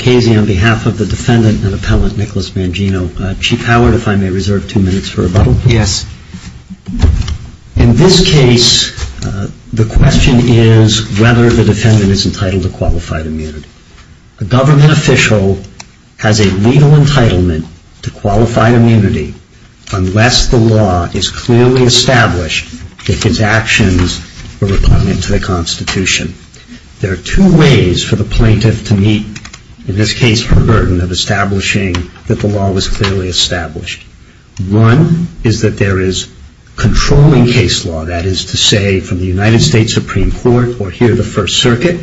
Chief Howard, if I may reserve two minutes for rebuttal. Yes. In this case, the question is whether the defendant is entitled to qualified immunity. A government official has a legal entitlement to qualified immunity unless the law is clearly established that his actions are recognizant to the Constitution. There are two ways for the plaintiff to meet, in this case, the burden of establishing that the law was clearly established. One is that there is controlling case law, that is to say, from the United States Supreme Court or here the First Circuit,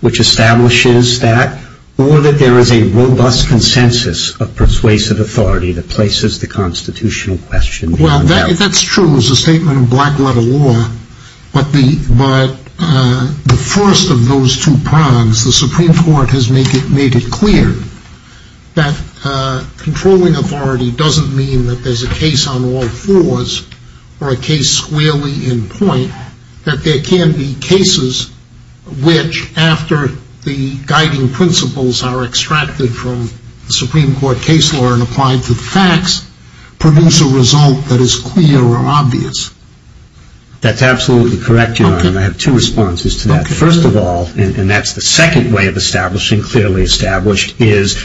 which establishes that, or that there is a robust consensus of persuasive authority that places the constitutional question beyond that. Well, that's true. It's a statement of black letter law. But the first of those two prongs, the Supreme Court has made it clear that controlling authority doesn't mean that there's a case on all fours or a case squarely in point. That there can be cases which, after the guiding principles are extracted from the Supreme Court case law and applied to the facts, produce a result that is clear or obvious. That's absolutely correct, Your Honor, and I have two responses to that. First of all, and that's the second way of establishing clearly established, is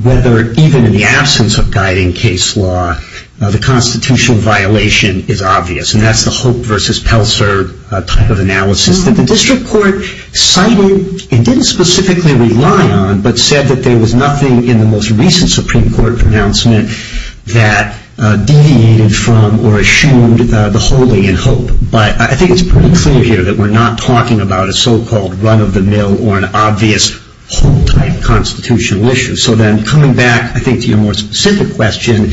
whether even in the absence of guiding case law, the constitutional violation is obvious. And that's the Hope versus Pelser type of analysis that the district court cited and didn't specifically rely on, but said that there was nothing in the most recent Supreme Court pronouncement that deviated from or eschewed the wholly in Hope. But I think it's pretty clear here that we're not talking about a so-called run of the mill or an obvious whole type constitutional issue. So then coming back, I think, to your more specific question,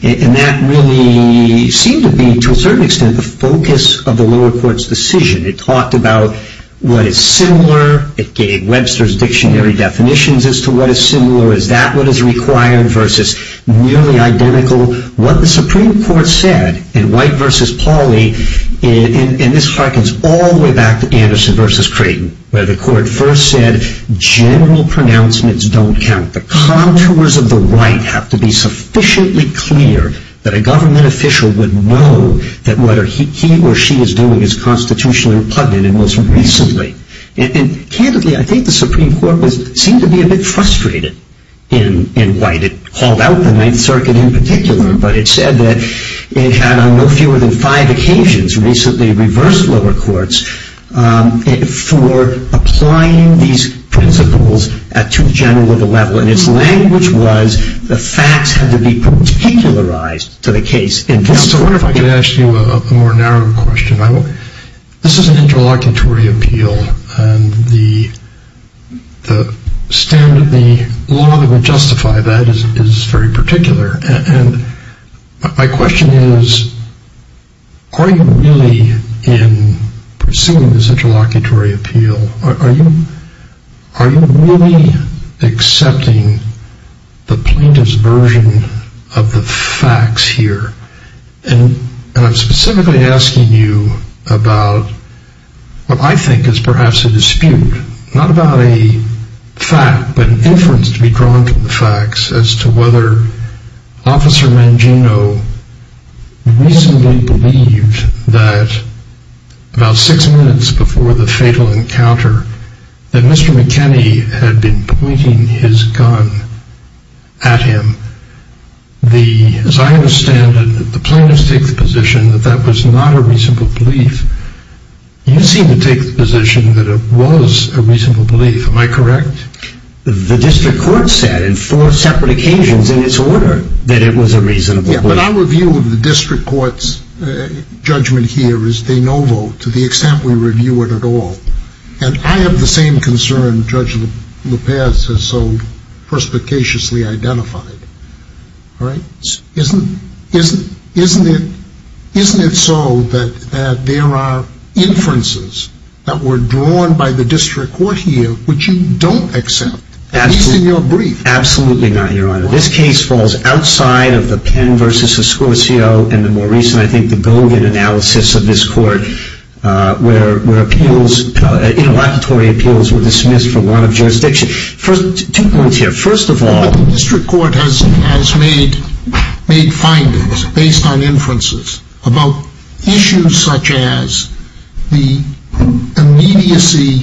and that really seemed to be, to a certain extent, the focus of the lower court's decision. It talked about what is similar. It gave Webster's dictionary definitions as to what is similar, is that what is required, versus nearly identical. What the Supreme Court said in White versus Pauley, and this harkens all the way back to Anderson versus Creighton, where the court first said general pronouncements don't count. The contours of the right have to be sufficiently clear that a government official would know that what he or she is doing is constitutionally repugnant and most recently. And candidly, I think the Supreme Court seemed to be a bit frustrated in White. It called out the Ninth Circuit in particular, but it said that it had on no fewer than five occasions recently reversed lower courts for applying these principles at too general of a level. And its language was the facts had to be particularized to the case. I wonder if I could ask you a more narrow question. This is an interlocutory appeal, and the law that would justify that is very particular. My question is, are you really, in pursuing this interlocutory appeal, are you really accepting the plaintiff's version of the facts here? And I'm specifically asking you about what I think is perhaps a dispute, not about a fact, but an inference to be drawn from the facts as to whether Officer Mangino recently believed that about six minutes before the fatal encounter, that Mr. McKinney had been pointing his gun at him. As I understand it, the plaintiff takes the position that that was not a reasonable belief. You seem to take the position that it was a reasonable belief. Am I correct? The district court said on four separate occasions in its order that it was a reasonable belief. Yeah, but our view of the district court's judgment here is de novo to the extent we review it at all. And I have the same concern Judge Luperce has so perspicaciously identified. Isn't it so that there are inferences that were drawn by the district court here which you don't accept, at least in your brief? Absolutely not, Your Honor. This case falls outside of the Penn v. Escorcio and the more recent, I think, the Gogan analysis of this court where interlocutory appeals were dismissed for lack of jurisdiction. Two points here. First of all, the district court has made findings based on inferences about issues such as the immediacy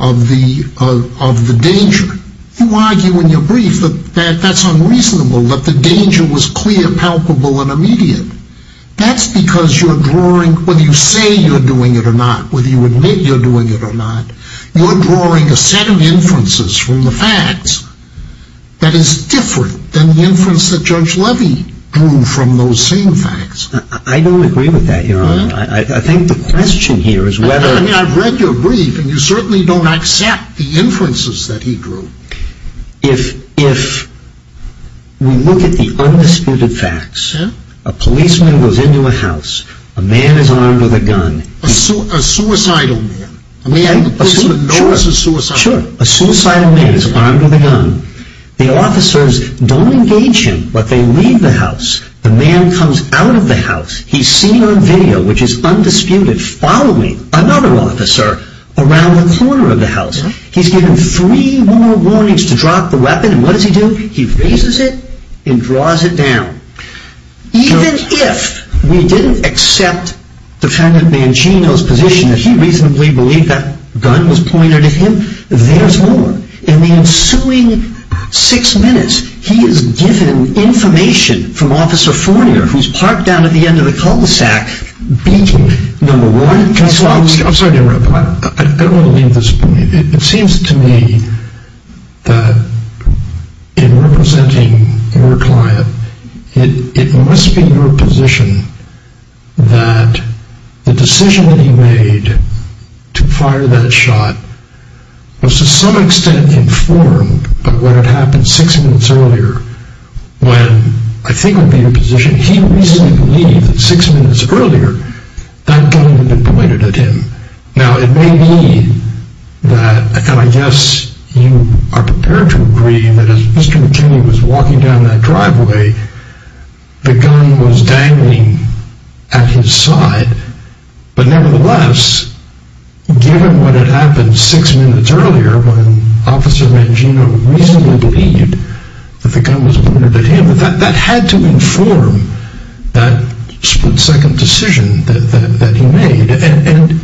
of the danger. You argue in your brief that that's unreasonable, that the danger was clear, palpable, and immediate. That's because you're drawing, whether you say you're doing it or not, whether you admit you're doing it or not, you're drawing a set of inferences from the facts that is different than the inference that Judge Levy drew from those same facts. I don't agree with that, Your Honor. I think the question here is whether… I mean, I've read your brief and you certainly don't accept the inferences that he drew. If we look at the undisputed facts, a policeman goes into a house, a man is armed with a gun… A suicidal man. A suicidal man is armed with a gun. The officers don't engage him, but they leave the house. The man comes out of the house. He's seen on video, which is undisputed, following another officer around the corner of the house. He's given three more warnings to drop the weapon, and what does he do? He raises it and draws it down. Even if we didn't accept Defendant Mancino's position that he reasonably believed that gun was pointed at him, there's more. In the ensuing six minutes, he is given information from Officer Fournier, who's parked down at the end of the cul-de-sac, beating number one… I'm sorry to interrupt, but I don't want to leave this point. It seems to me that in representing your client, it must be your position that the decision that he made to fire that shot was to some extent informed of what had happened six minutes earlier, when, I think it would be your position, he reasonably believed that six minutes earlier, that gun had been pointed at him. Now, it may be that, and I guess you are prepared to agree, that as Mr. McKinney was walking down that driveway, the gun was dangling at his side. But nevertheless, given what had happened six minutes earlier, when Officer Mancino reasonably believed that the gun was pointed at him, that had to inform that split-second decision that he made. And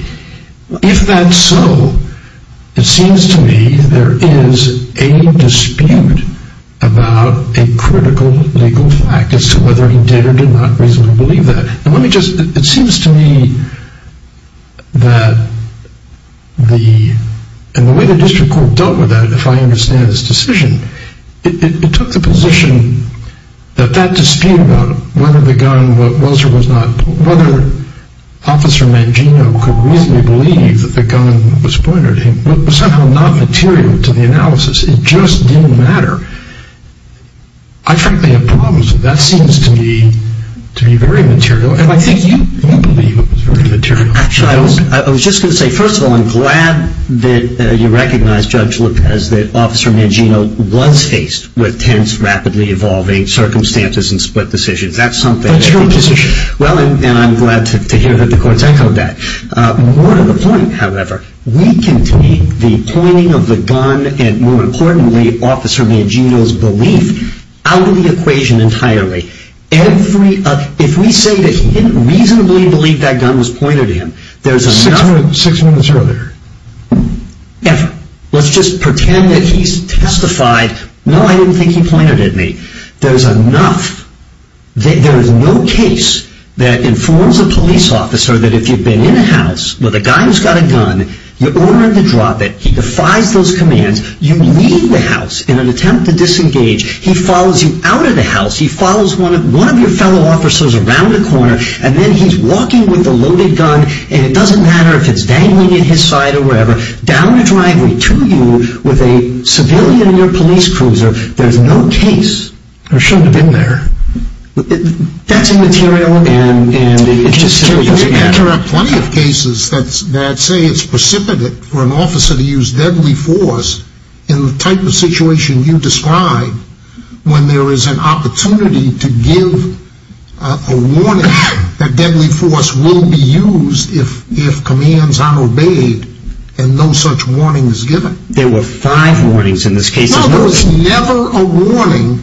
if that's so, it seems to me there is a dispute about a critical legal fact as to whether he did or did not reasonably believe that. It seems to me that the way the district court dealt with that, if I understand this decision, it took the position that that dispute about whether Officer Mancino could reasonably believe that the gun was pointed at him was somehow not material to the analysis. It just didn't matter. I frankly have problems with that. That seems to me to be very material, and I think you do believe it was very material. Actually, I was just going to say, first of all, I'm glad that you recognize, Judge Lopez, that Officer Mancino was faced with tense, rapidly evolving circumstances and split decisions. That's your position. Well, and I'm glad to hear that the courts echoed that. More to the point, however, we can take the pointing of the gun and, more importantly, Officer Mancino's belief out of the equation entirely. If we say that he didn't reasonably believe that gun was pointed at him, there's enough… Six minutes earlier. Ever. Let's just pretend that he's testified, no, I didn't think he pointed it at me. There's enough… There is no case that informs a police officer that if you've been in a house with a guy who's got a gun, you order him to drop it, he defies those commands, you leave the house in an attempt to disengage, he follows you out of the house, he follows one of your fellow officers around a corner, and then he's walking with a loaded gun, and it doesn't matter if it's dangling at his side or wherever, down the driveway to you with a civilian in your police cruiser, there's no case. There shouldn't have been there. That's immaterial and it just simply doesn't matter. And there are plenty of cases that say it's precipitate for an officer to use deadly force in the type of situation you describe when there is an opportunity to give a warning that deadly force will be used if commands aren't obeyed and no such warning is given. There were five warnings in this case. No, there was never a warning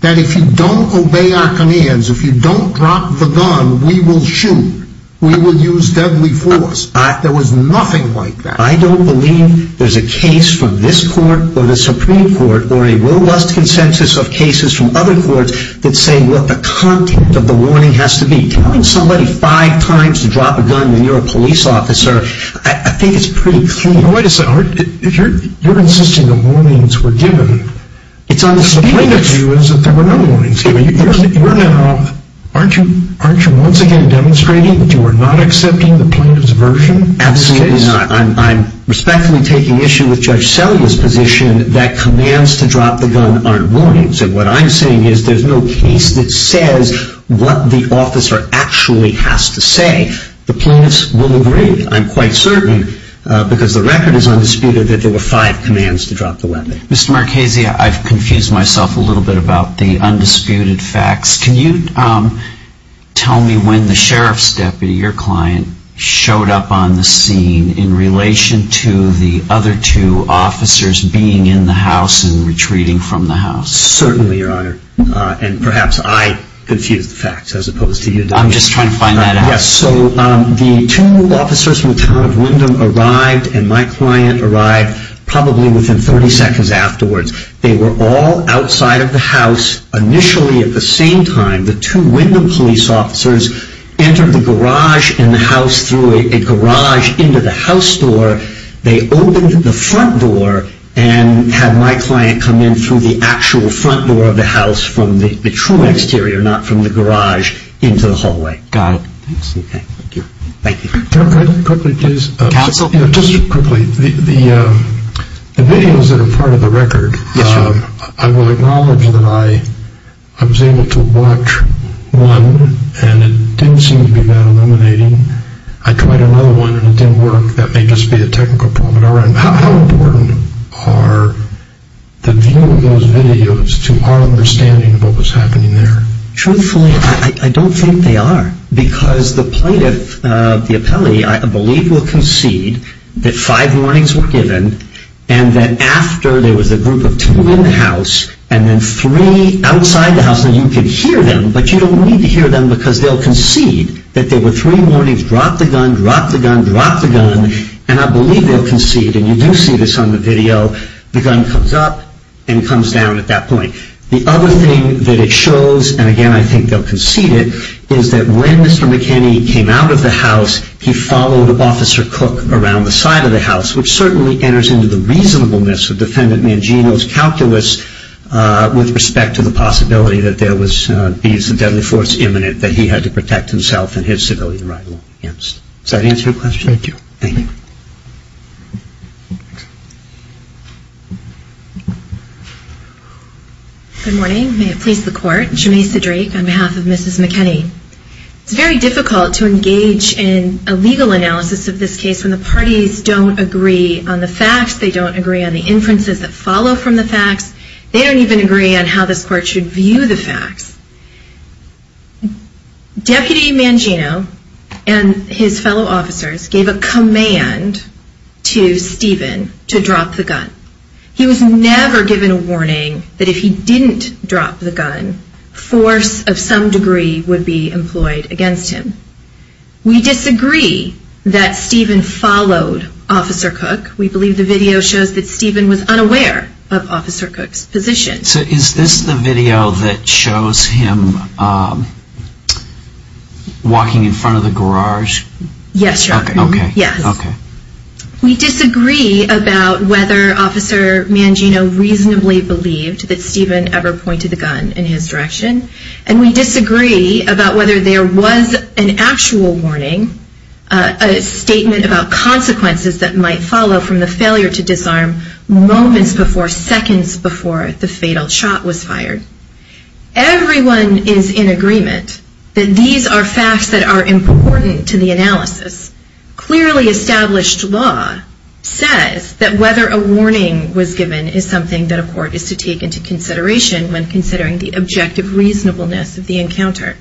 that if you don't obey our commands, if you don't drop the gun, we will shoot, we will use deadly force. There was nothing like that. I don't believe there's a case from this court or the Supreme Court or a robust consensus of cases from other courts that say what the content of the warning has to be. Telling somebody five times to drop a gun when you're a police officer, I think it's pretty clean. Wait a second. You're insisting the warnings were given. It's understated. The point of view is that there were no warnings given. You're now, aren't you once again demonstrating that you are not accepting the plaintiff's version of this case? Absolutely not. I'm respectfully taking issue with Judge Selya's position that commands to drop the gun aren't warnings. And what I'm saying is there's no case that says what the officer actually has to say. The plaintiffs will agree. I'm quite certain because the record is undisputed that there were five commands to drop the weapon. Mr. Marchese, I've confused myself a little bit about the undisputed facts. Can you tell me when the sheriff's deputy, your client, showed up on the scene in relation to the other two officers being in the house and retreating from the house? Certainly, Your Honor. And perhaps I confused the facts as opposed to you. I'm just trying to find that out. Yes. So the two officers from the town of Wyndham arrived and my client arrived probably within 30 seconds afterwards. They were all outside of the house initially at the same time. The two Wyndham police officers entered the garage and the house through a garage into the house door. They opened the front door and had my client come in through the actual front door of the house from the true exterior, not from the garage, into the hallway. Got it. Okay. Thank you. Counsel? Just quickly. The videos that are part of the record, I will acknowledge that I was able to watch one and it didn't seem to be that illuminating. I tried another one and it didn't work. That may just be a technical problem at our end. How important are the view of those videos to our understanding of what was happening there? Truthfully, I don't think they are because the plaintiff, the appellee, I believe will concede that five warnings were given and that after there was a group of two in the house and then three outside the house and you could hear them but you don't need to hear them because they'll concede that there were three warnings, drop the gun, drop the gun, drop the gun, and I believe they'll concede. And you do see this on the video. The gun comes up and comes down at that point. The other thing that it shows, and again I think they'll concede it, is that when Mr. McKinney came out of the house he followed Officer Cook around the side of the house which certainly enters into the reasonableness of Defendant Mangino's calculus with respect to the possibility that there was a deadly force imminent that he had to protect himself and his civilian rival against. Does that answer your question? Thank you. Thank you. Good morning. May it please the Court. Jameisa Drake on behalf of Mrs. McKinney. It's very difficult to engage in a legal analysis of this case when the parties don't agree on the facts, they don't agree on the inferences that follow from the facts, they don't even agree on how this Court should view the facts. Deputy Mangino and his fellow officers gave a command to Stephen to drop the gun. He was never given a warning that if he didn't drop the gun, force of some degree would be employed against him. We disagree that Stephen followed Officer Cook. We believe the video shows that Stephen was unaware of Officer Cook's position. So is this the video that shows him walking in front of the garage? Yes. Okay. Okay. We disagree about whether Officer Mangino reasonably believed that Stephen ever pointed the gun in his direction, and we disagree about whether there was an actual warning, a statement about consequences that might follow from the failure to disarm moments before, seconds before the fatal shot was fired. Everyone is in agreement that these are facts that are important to the analysis. Clearly established law says that whether a warning was given is something that a court is to take into consideration when considering the objective reasonableness of the encounter.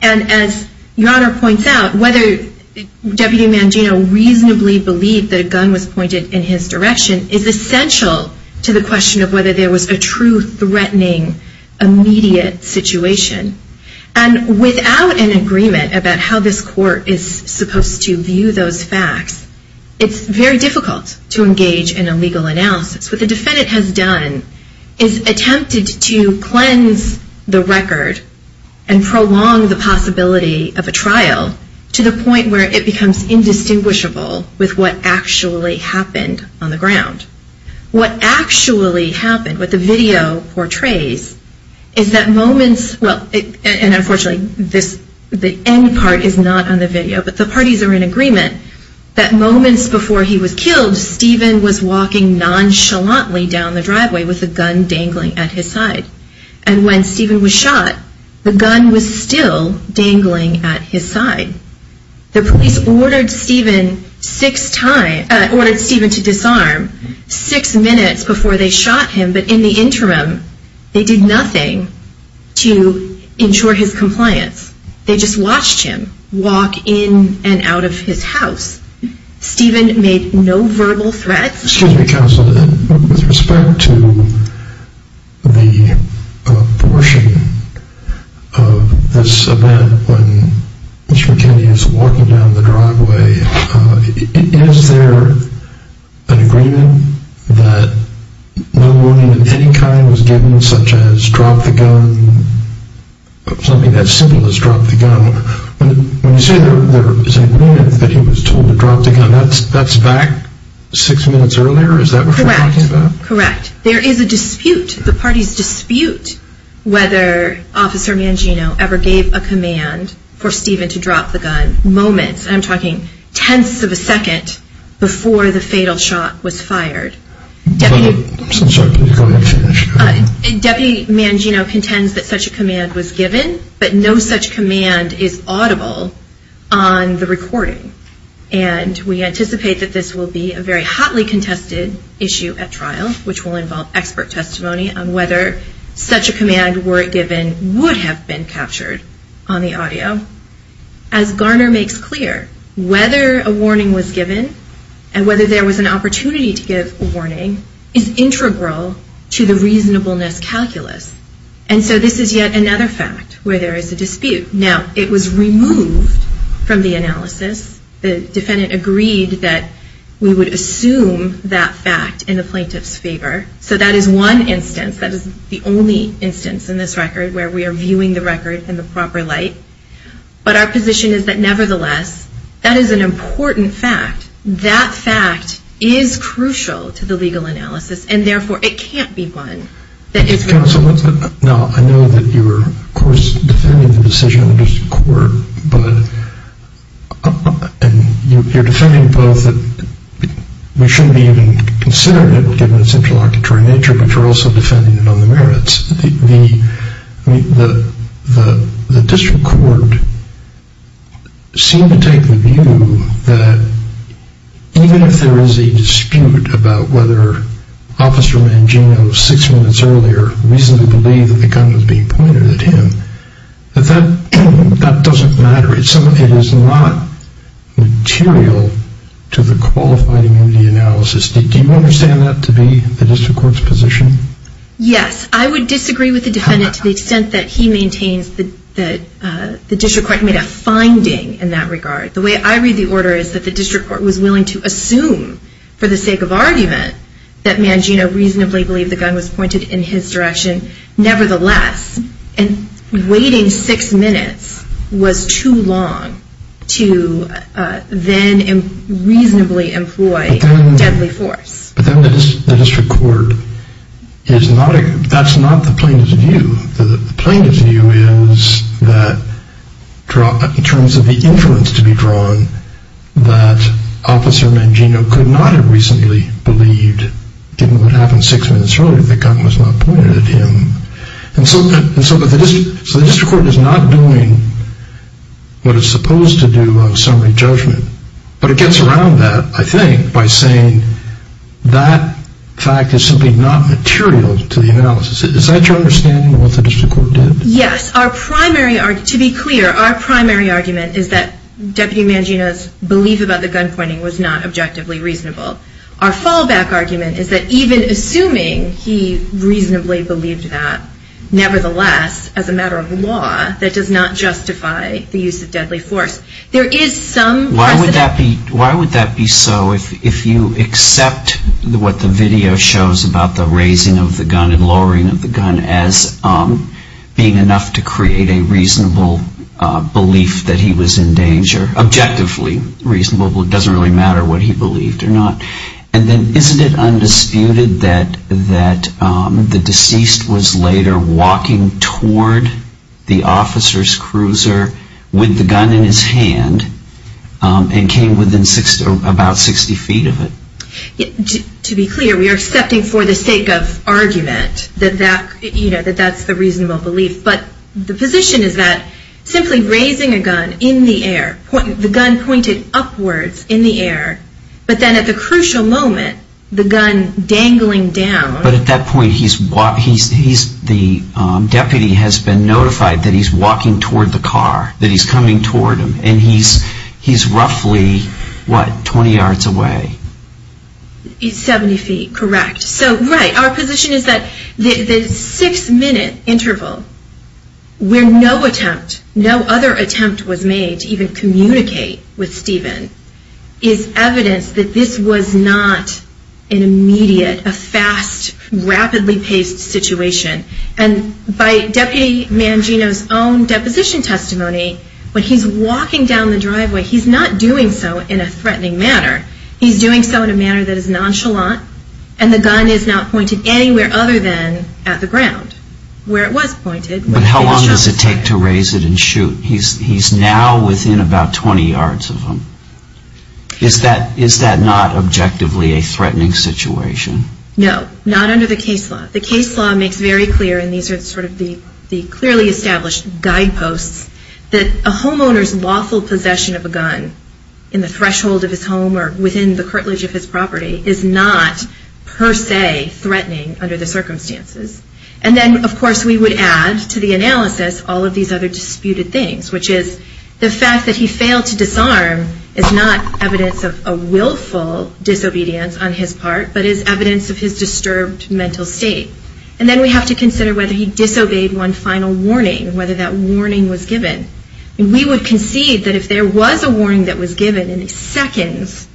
And as Your Honor points out, whether Deputy Mangino reasonably believed that a gun was pointed in his direction is essential to the question of whether there was a true threatening immediate situation. And without an agreement about how this court is supposed to view those facts, it's very difficult to engage in a legal analysis. What the defendant has done is attempted to cleanse the record and prolong the possibility of a trial to the point where it becomes indistinguishable with what actually happened on the ground. What actually happened, what the video portrays, is that moments, and unfortunately the end part is not on the video, but the parties are in agreement, that moments before he was killed, Stephen was walking nonchalantly down the driveway with a gun dangling at his side. And when Stephen was shot, the gun was still dangling at his side. The police ordered Stephen six times, ordered Stephen to disarm six minutes before they shot him, but in the interim, they did nothing to ensure his compliance. They just watched him walk in and out of his house. Stephen made no verbal threats. Excuse me, Counsel, with respect to the portion of this event when Mr. McKinney is walking down the driveway, is there an agreement that no warning of any kind was given, such as drop the gun, something as simple as drop the gun? When you say there is an agreement that he was told to drop the gun, that's back six minutes earlier? Is that what you're talking about? Correct. There is a dispute, the parties dispute, whether Officer Mangino ever gave a command for Stephen to drop the gun. I'm talking tenths of a second before the fatal shot was fired. I'm sorry, can you go ahead and finish? Deputy Mangino contends that such a command was given, but no such command is audible on the recording. And we anticipate that this will be a very hotly contested issue at trial, which will involve expert testimony on whether such a command were given would have been captured on the audio. As Garner makes clear, whether a warning was given and whether there was an opportunity to give a warning is integral to the reasonableness calculus. And so this is yet another fact where there is a dispute. Now, it was removed from the analysis. The defendant agreed that we would assume that fact in the plaintiff's favor. So that is one instance, that is the only instance in this record where we are viewing the record in the proper light. But our position is that, nevertheless, that is an important fact. That fact is crucial to the legal analysis, and therefore it can't be one that is removed. Now, I know that you are, of course, defending the decision of the District Court, but you're defending both that we shouldn't be even considering it, given its interlocutory nature, but you're also defending it on the merits. The District Court seemed to take the view that, even if there is a dispute about whether Officer Mangino, six minutes earlier, reasonably believed that the gun was being pointed at him, that that doesn't matter. It is not material to the qualified immunity analysis. Do you understand that to be the District Court's position? Yes. I would disagree with the defendant to the extent that he maintains that the District Court made a finding in that regard. The way I read the order is that the District Court was willing to assume, for the sake of argument, that Mangino reasonably believed the gun was pointed in his direction. Nevertheless, waiting six minutes was too long to then reasonably employ deadly force. But then the District Court is not, that's not the plaintiff's view. The plaintiff's view is that, in terms of the inference to be drawn, that Officer Mangino could not have reasonably believed, given what happened six minutes earlier, that the gun was not pointed at him. And so the District Court is not doing what it's supposed to do on summary judgment. But it gets around that, I think, by saying that fact is simply not material to the analysis. Is that your understanding of what the District Court did? Yes. Our primary argument, to be clear, our primary argument is that Deputy Mangino's belief about the gun pointing was not objectively reasonable. Our fallback argument is that even assuming he reasonably believed that, nevertheless, as a matter of law, that does not justify the use of deadly force. There is some precedent. Why would that be so if you accept what the video shows about the raising of the gun and lowering of the gun as being enough to create a reasonable belief that he was in danger, objectively reasonable, but it doesn't really matter what he believed or not. And then isn't it undisputed that the deceased was later walking toward the officer's cruiser with the gun in his hand and came within about 60 feet of it? To be clear, we are accepting for the sake of argument that that's the reasonable belief. But the position is that simply raising a gun in the air, the gun pointed upwards in the air, but then at the crucial moment, the gun dangling down. But at that point, the deputy has been notified that he's walking toward the car, that he's coming toward him, and he's roughly, what, 20 yards away? He's 70 feet, correct. So, right, our position is that the six-minute interval where no attempt, no other attempt was made to even communicate with Stephen, is evidence that this was not an immediate, a fast, rapidly-paced situation. And by Deputy Mangino's own deposition testimony, when he's walking down the driveway, he's not doing so in a threatening manner. He's doing so in a manner that is nonchalant, and the gun is not pointed anywhere other than at the ground where it was pointed. But how long does it take to raise it and shoot? He's now within about 20 yards of him. Is that not objectively a threatening situation? No, not under the case law. The case law makes very clear, and these are sort of the clearly established guideposts, that a homeowner's lawful possession of a gun in the threshold of his home or within the curtilage of his property is not per se threatening under the circumstances. And then, of course, we would add to the analysis all of these other disputed things, which is the fact that he failed to disarm is not evidence of a willful disobedience on his part, but is evidence of his disturbed mental state. And then we have to consider whether he disobeyed one final warning, whether that warning was given. We would concede that if there was a warning that was given seconds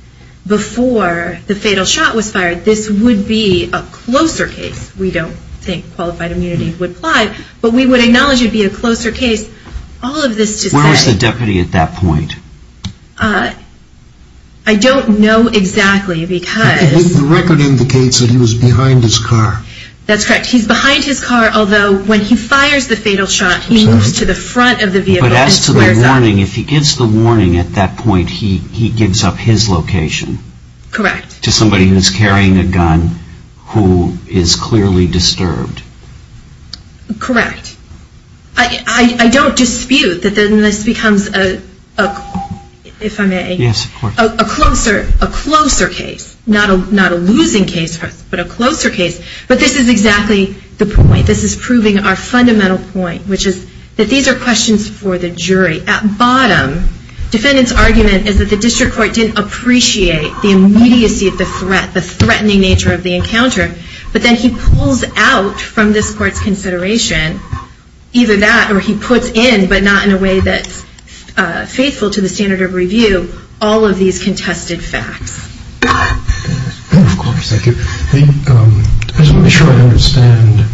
before the fatal shot was fired, this would be a closer case. We don't think qualified immunity would apply, but we would acknowledge it would be a closer case. All of this to say... Where was the deputy at that point? I don't know exactly because... The record indicates that he was behind his car. That's correct. He's behind his car, although when he fires the fatal shot, he moves to the front of the vehicle and squares off. If he gives the warning at that point, he gives up his location... Correct. ...to somebody who's carrying a gun who is clearly disturbed. Correct. I don't dispute that this becomes a closer case. Not a losing case, but a closer case. But this is exactly the point. This is proving our fundamental point, which is that these are questions for the jury. At bottom, defendant's argument is that the district court didn't appreciate the immediacy of the threat, the threatening nature of the encounter, but then he pulls out from this court's consideration, either that or he puts in, but not in a way that's faithful to the standard of review, all of these contested facts. Of course. Thank you. Let me make sure I understand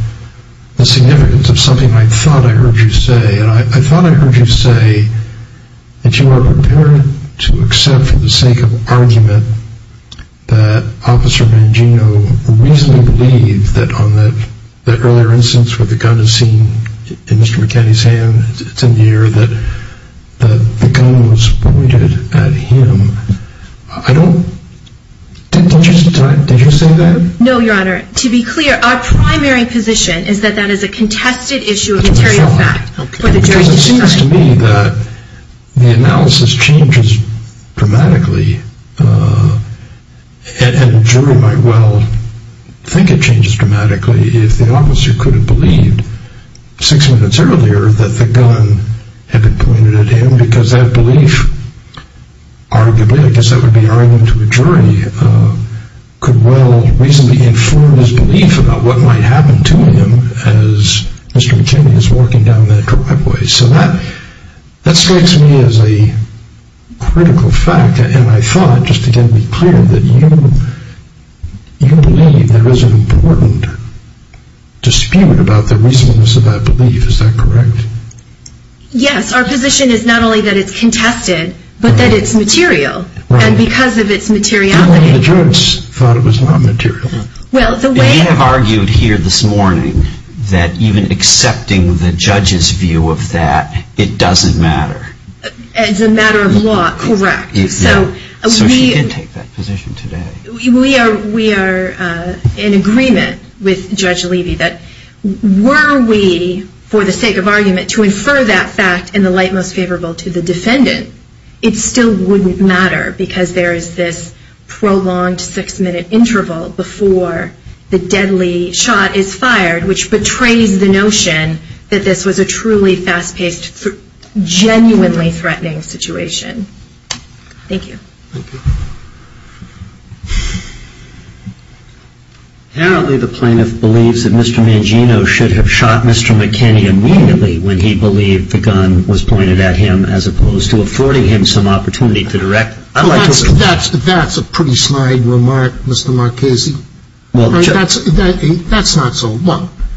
the significance of something I thought I heard you say. I thought I heard you say that you were prepared to accept for the sake of argument that Officer Mangino reasonably believed that on that earlier instance where the gun is seen in Mr. McKinney's hand, it's in the air, that the gun was pointed at him. Did you say that? No, Your Honor. To be clear, our primary position is that that is a contested issue of material fact. Because it seems to me that the analysis changes dramatically, and the jury might well think it changes dramatically if the officer could have believed six minutes earlier that the gun had been pointed at him because that belief arguably, I guess that would be argument to a jury, could well reasonably inform his belief about what might happen to him as Mr. McKinney is walking down that driveway. So that strikes me as a critical fact, and I thought, just again to be clear, that you believe there is an important dispute about the reasonableness of that belief. Is that correct? Yes. Our position is not only that it's contested, but that it's material, and because of its materiality. The judge thought it was non-material. You have argued here this morning that even accepting the judge's view of that, it doesn't matter. As a matter of law, correct. So she did take that position today. We are in agreement with Judge Levy that were we, for the sake of argument, to infer that fact in the light most favorable to the defendant, it still wouldn't matter because there is this prolonged six-minute interval before the deadly shot is fired, which betrays the notion that this was a truly fast-paced, genuinely threatening situation. Thank you. Apparently the plaintiff believes that Mr. Mangino should have shot Mr. McKinney immediately when he believed the gun was pointed at him as opposed to affording him some opportunity to direct. That's a pretty sly remark, Mr. Marchese. That's not so.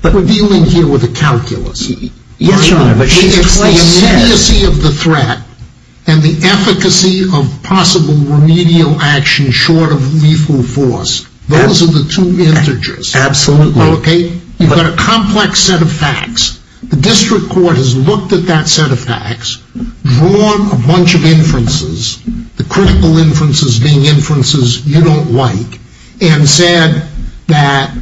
We're dealing here with a calculus. Yes, Your Honor, but she's twice said. The immediacy of the threat and the efficacy of possible remedial action short of lethal force, those are the two integers. Absolutely. You've got a complex set of facts. The district court has looked at that set of facts, drawn a bunch of inferences, the critical inferences being inferences you don't like, and said that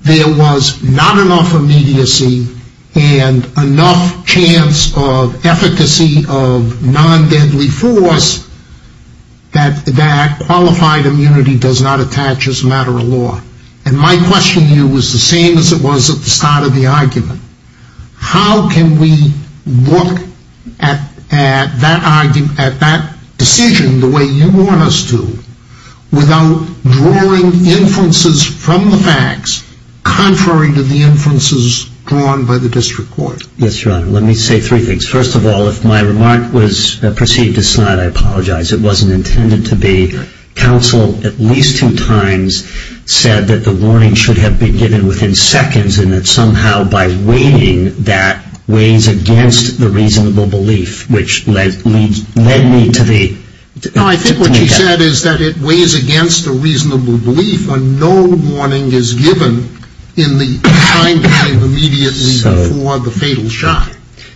there was not enough immediacy and enough chance of efficacy of non-deadly force that qualified immunity does not attach as a matter of law. And my question to you is the same as it was at the start of the argument. How can we look at that decision the way you want us to without drawing inferences from the facts contrary to the inferences drawn by the district court? Yes, Your Honor. Let me say three things. First of all, if my remark was perceived as sly, I apologize. It wasn't intended to be. Counsel at least two times said that the warning should have been given within seconds and that somehow by weighing that weighs against the reasonable belief, which led me to the... No, I think what you said is that it weighs against the reasonable belief when no warning is given in the time frame immediately before the fatal shot.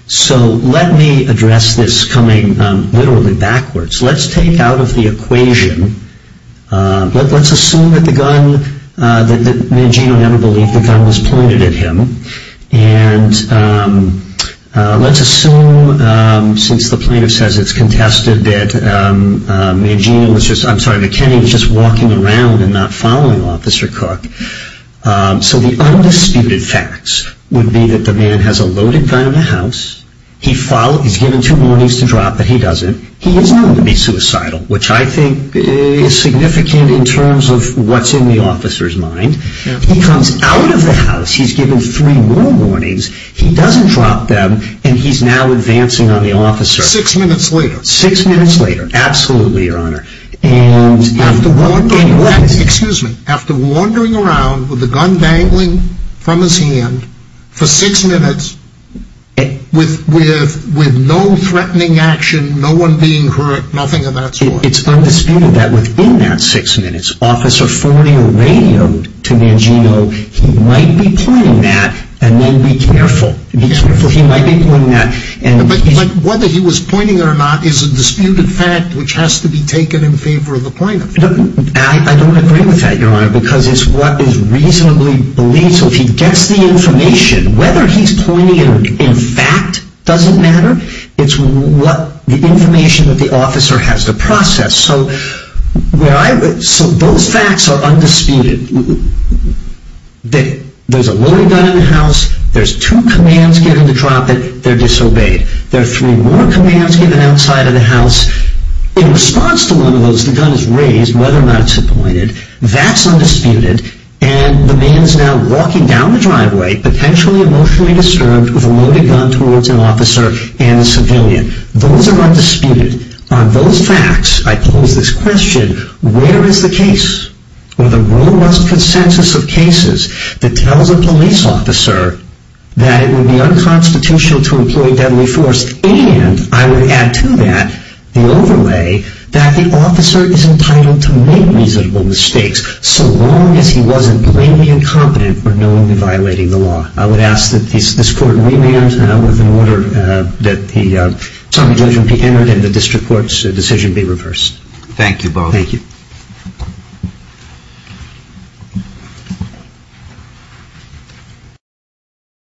So let me address this coming literally backwards. Let's take out of the equation. Let's assume that the gun, that Mangino never believed the gun was pointed at him. And let's assume, since the plaintiff says it's contested, that Kenny was just walking around and not following Officer Cook. So the undisputed facts would be that the man has a loaded gun in the house. He's given two warnings to drop, but he doesn't. He is known to be suicidal, which I think is significant in terms of what's in the officer's mind. He comes out of the house. He's given three more warnings. He doesn't drop them, and he's now advancing on the officer. Six minutes later. Six minutes later. Absolutely, Your Honor. And after wandering around with the gun dangling from his hand for six minutes with no threatening action, no one being hurt, nothing of that sort. It's undisputed that within that six minutes, officer forwarding a radio to Mangino, he might be pointing that, and then be careful. He might be pointing that. But whether he was pointing or not is a disputed fact, which has to be taken in favor of the plaintiff. I don't agree with that, Your Honor, because it's what is reasonably believed. So if he gets the information, whether he's pointing it in fact doesn't matter. It's the information that the officer has to process. So those facts are undisputed. There's a loaded gun in the house. There's two commands given to drop it. They're disobeyed. There are three more commands given outside of the house. In response to one of those, the gun is raised, whether or not it's pointed. That's undisputed. And the man's now walking down the driveway, potentially emotionally disturbed, with a loaded gun towards an officer and a civilian. Those are undisputed. On those facts, I pose this question, where is the case? Well, the robust consensus of cases that tells a police officer that it would be unconstitutional to employ deadly force, and I would add to that the overlay that the officer is entitled to make reasonable mistakes so long as he wasn't plainly incompetent or knowingly violating the law. I would ask that this court remand with an order that the assembly judgment be entered and the district court's decision be reversed. Thank you, Bob. Thank you.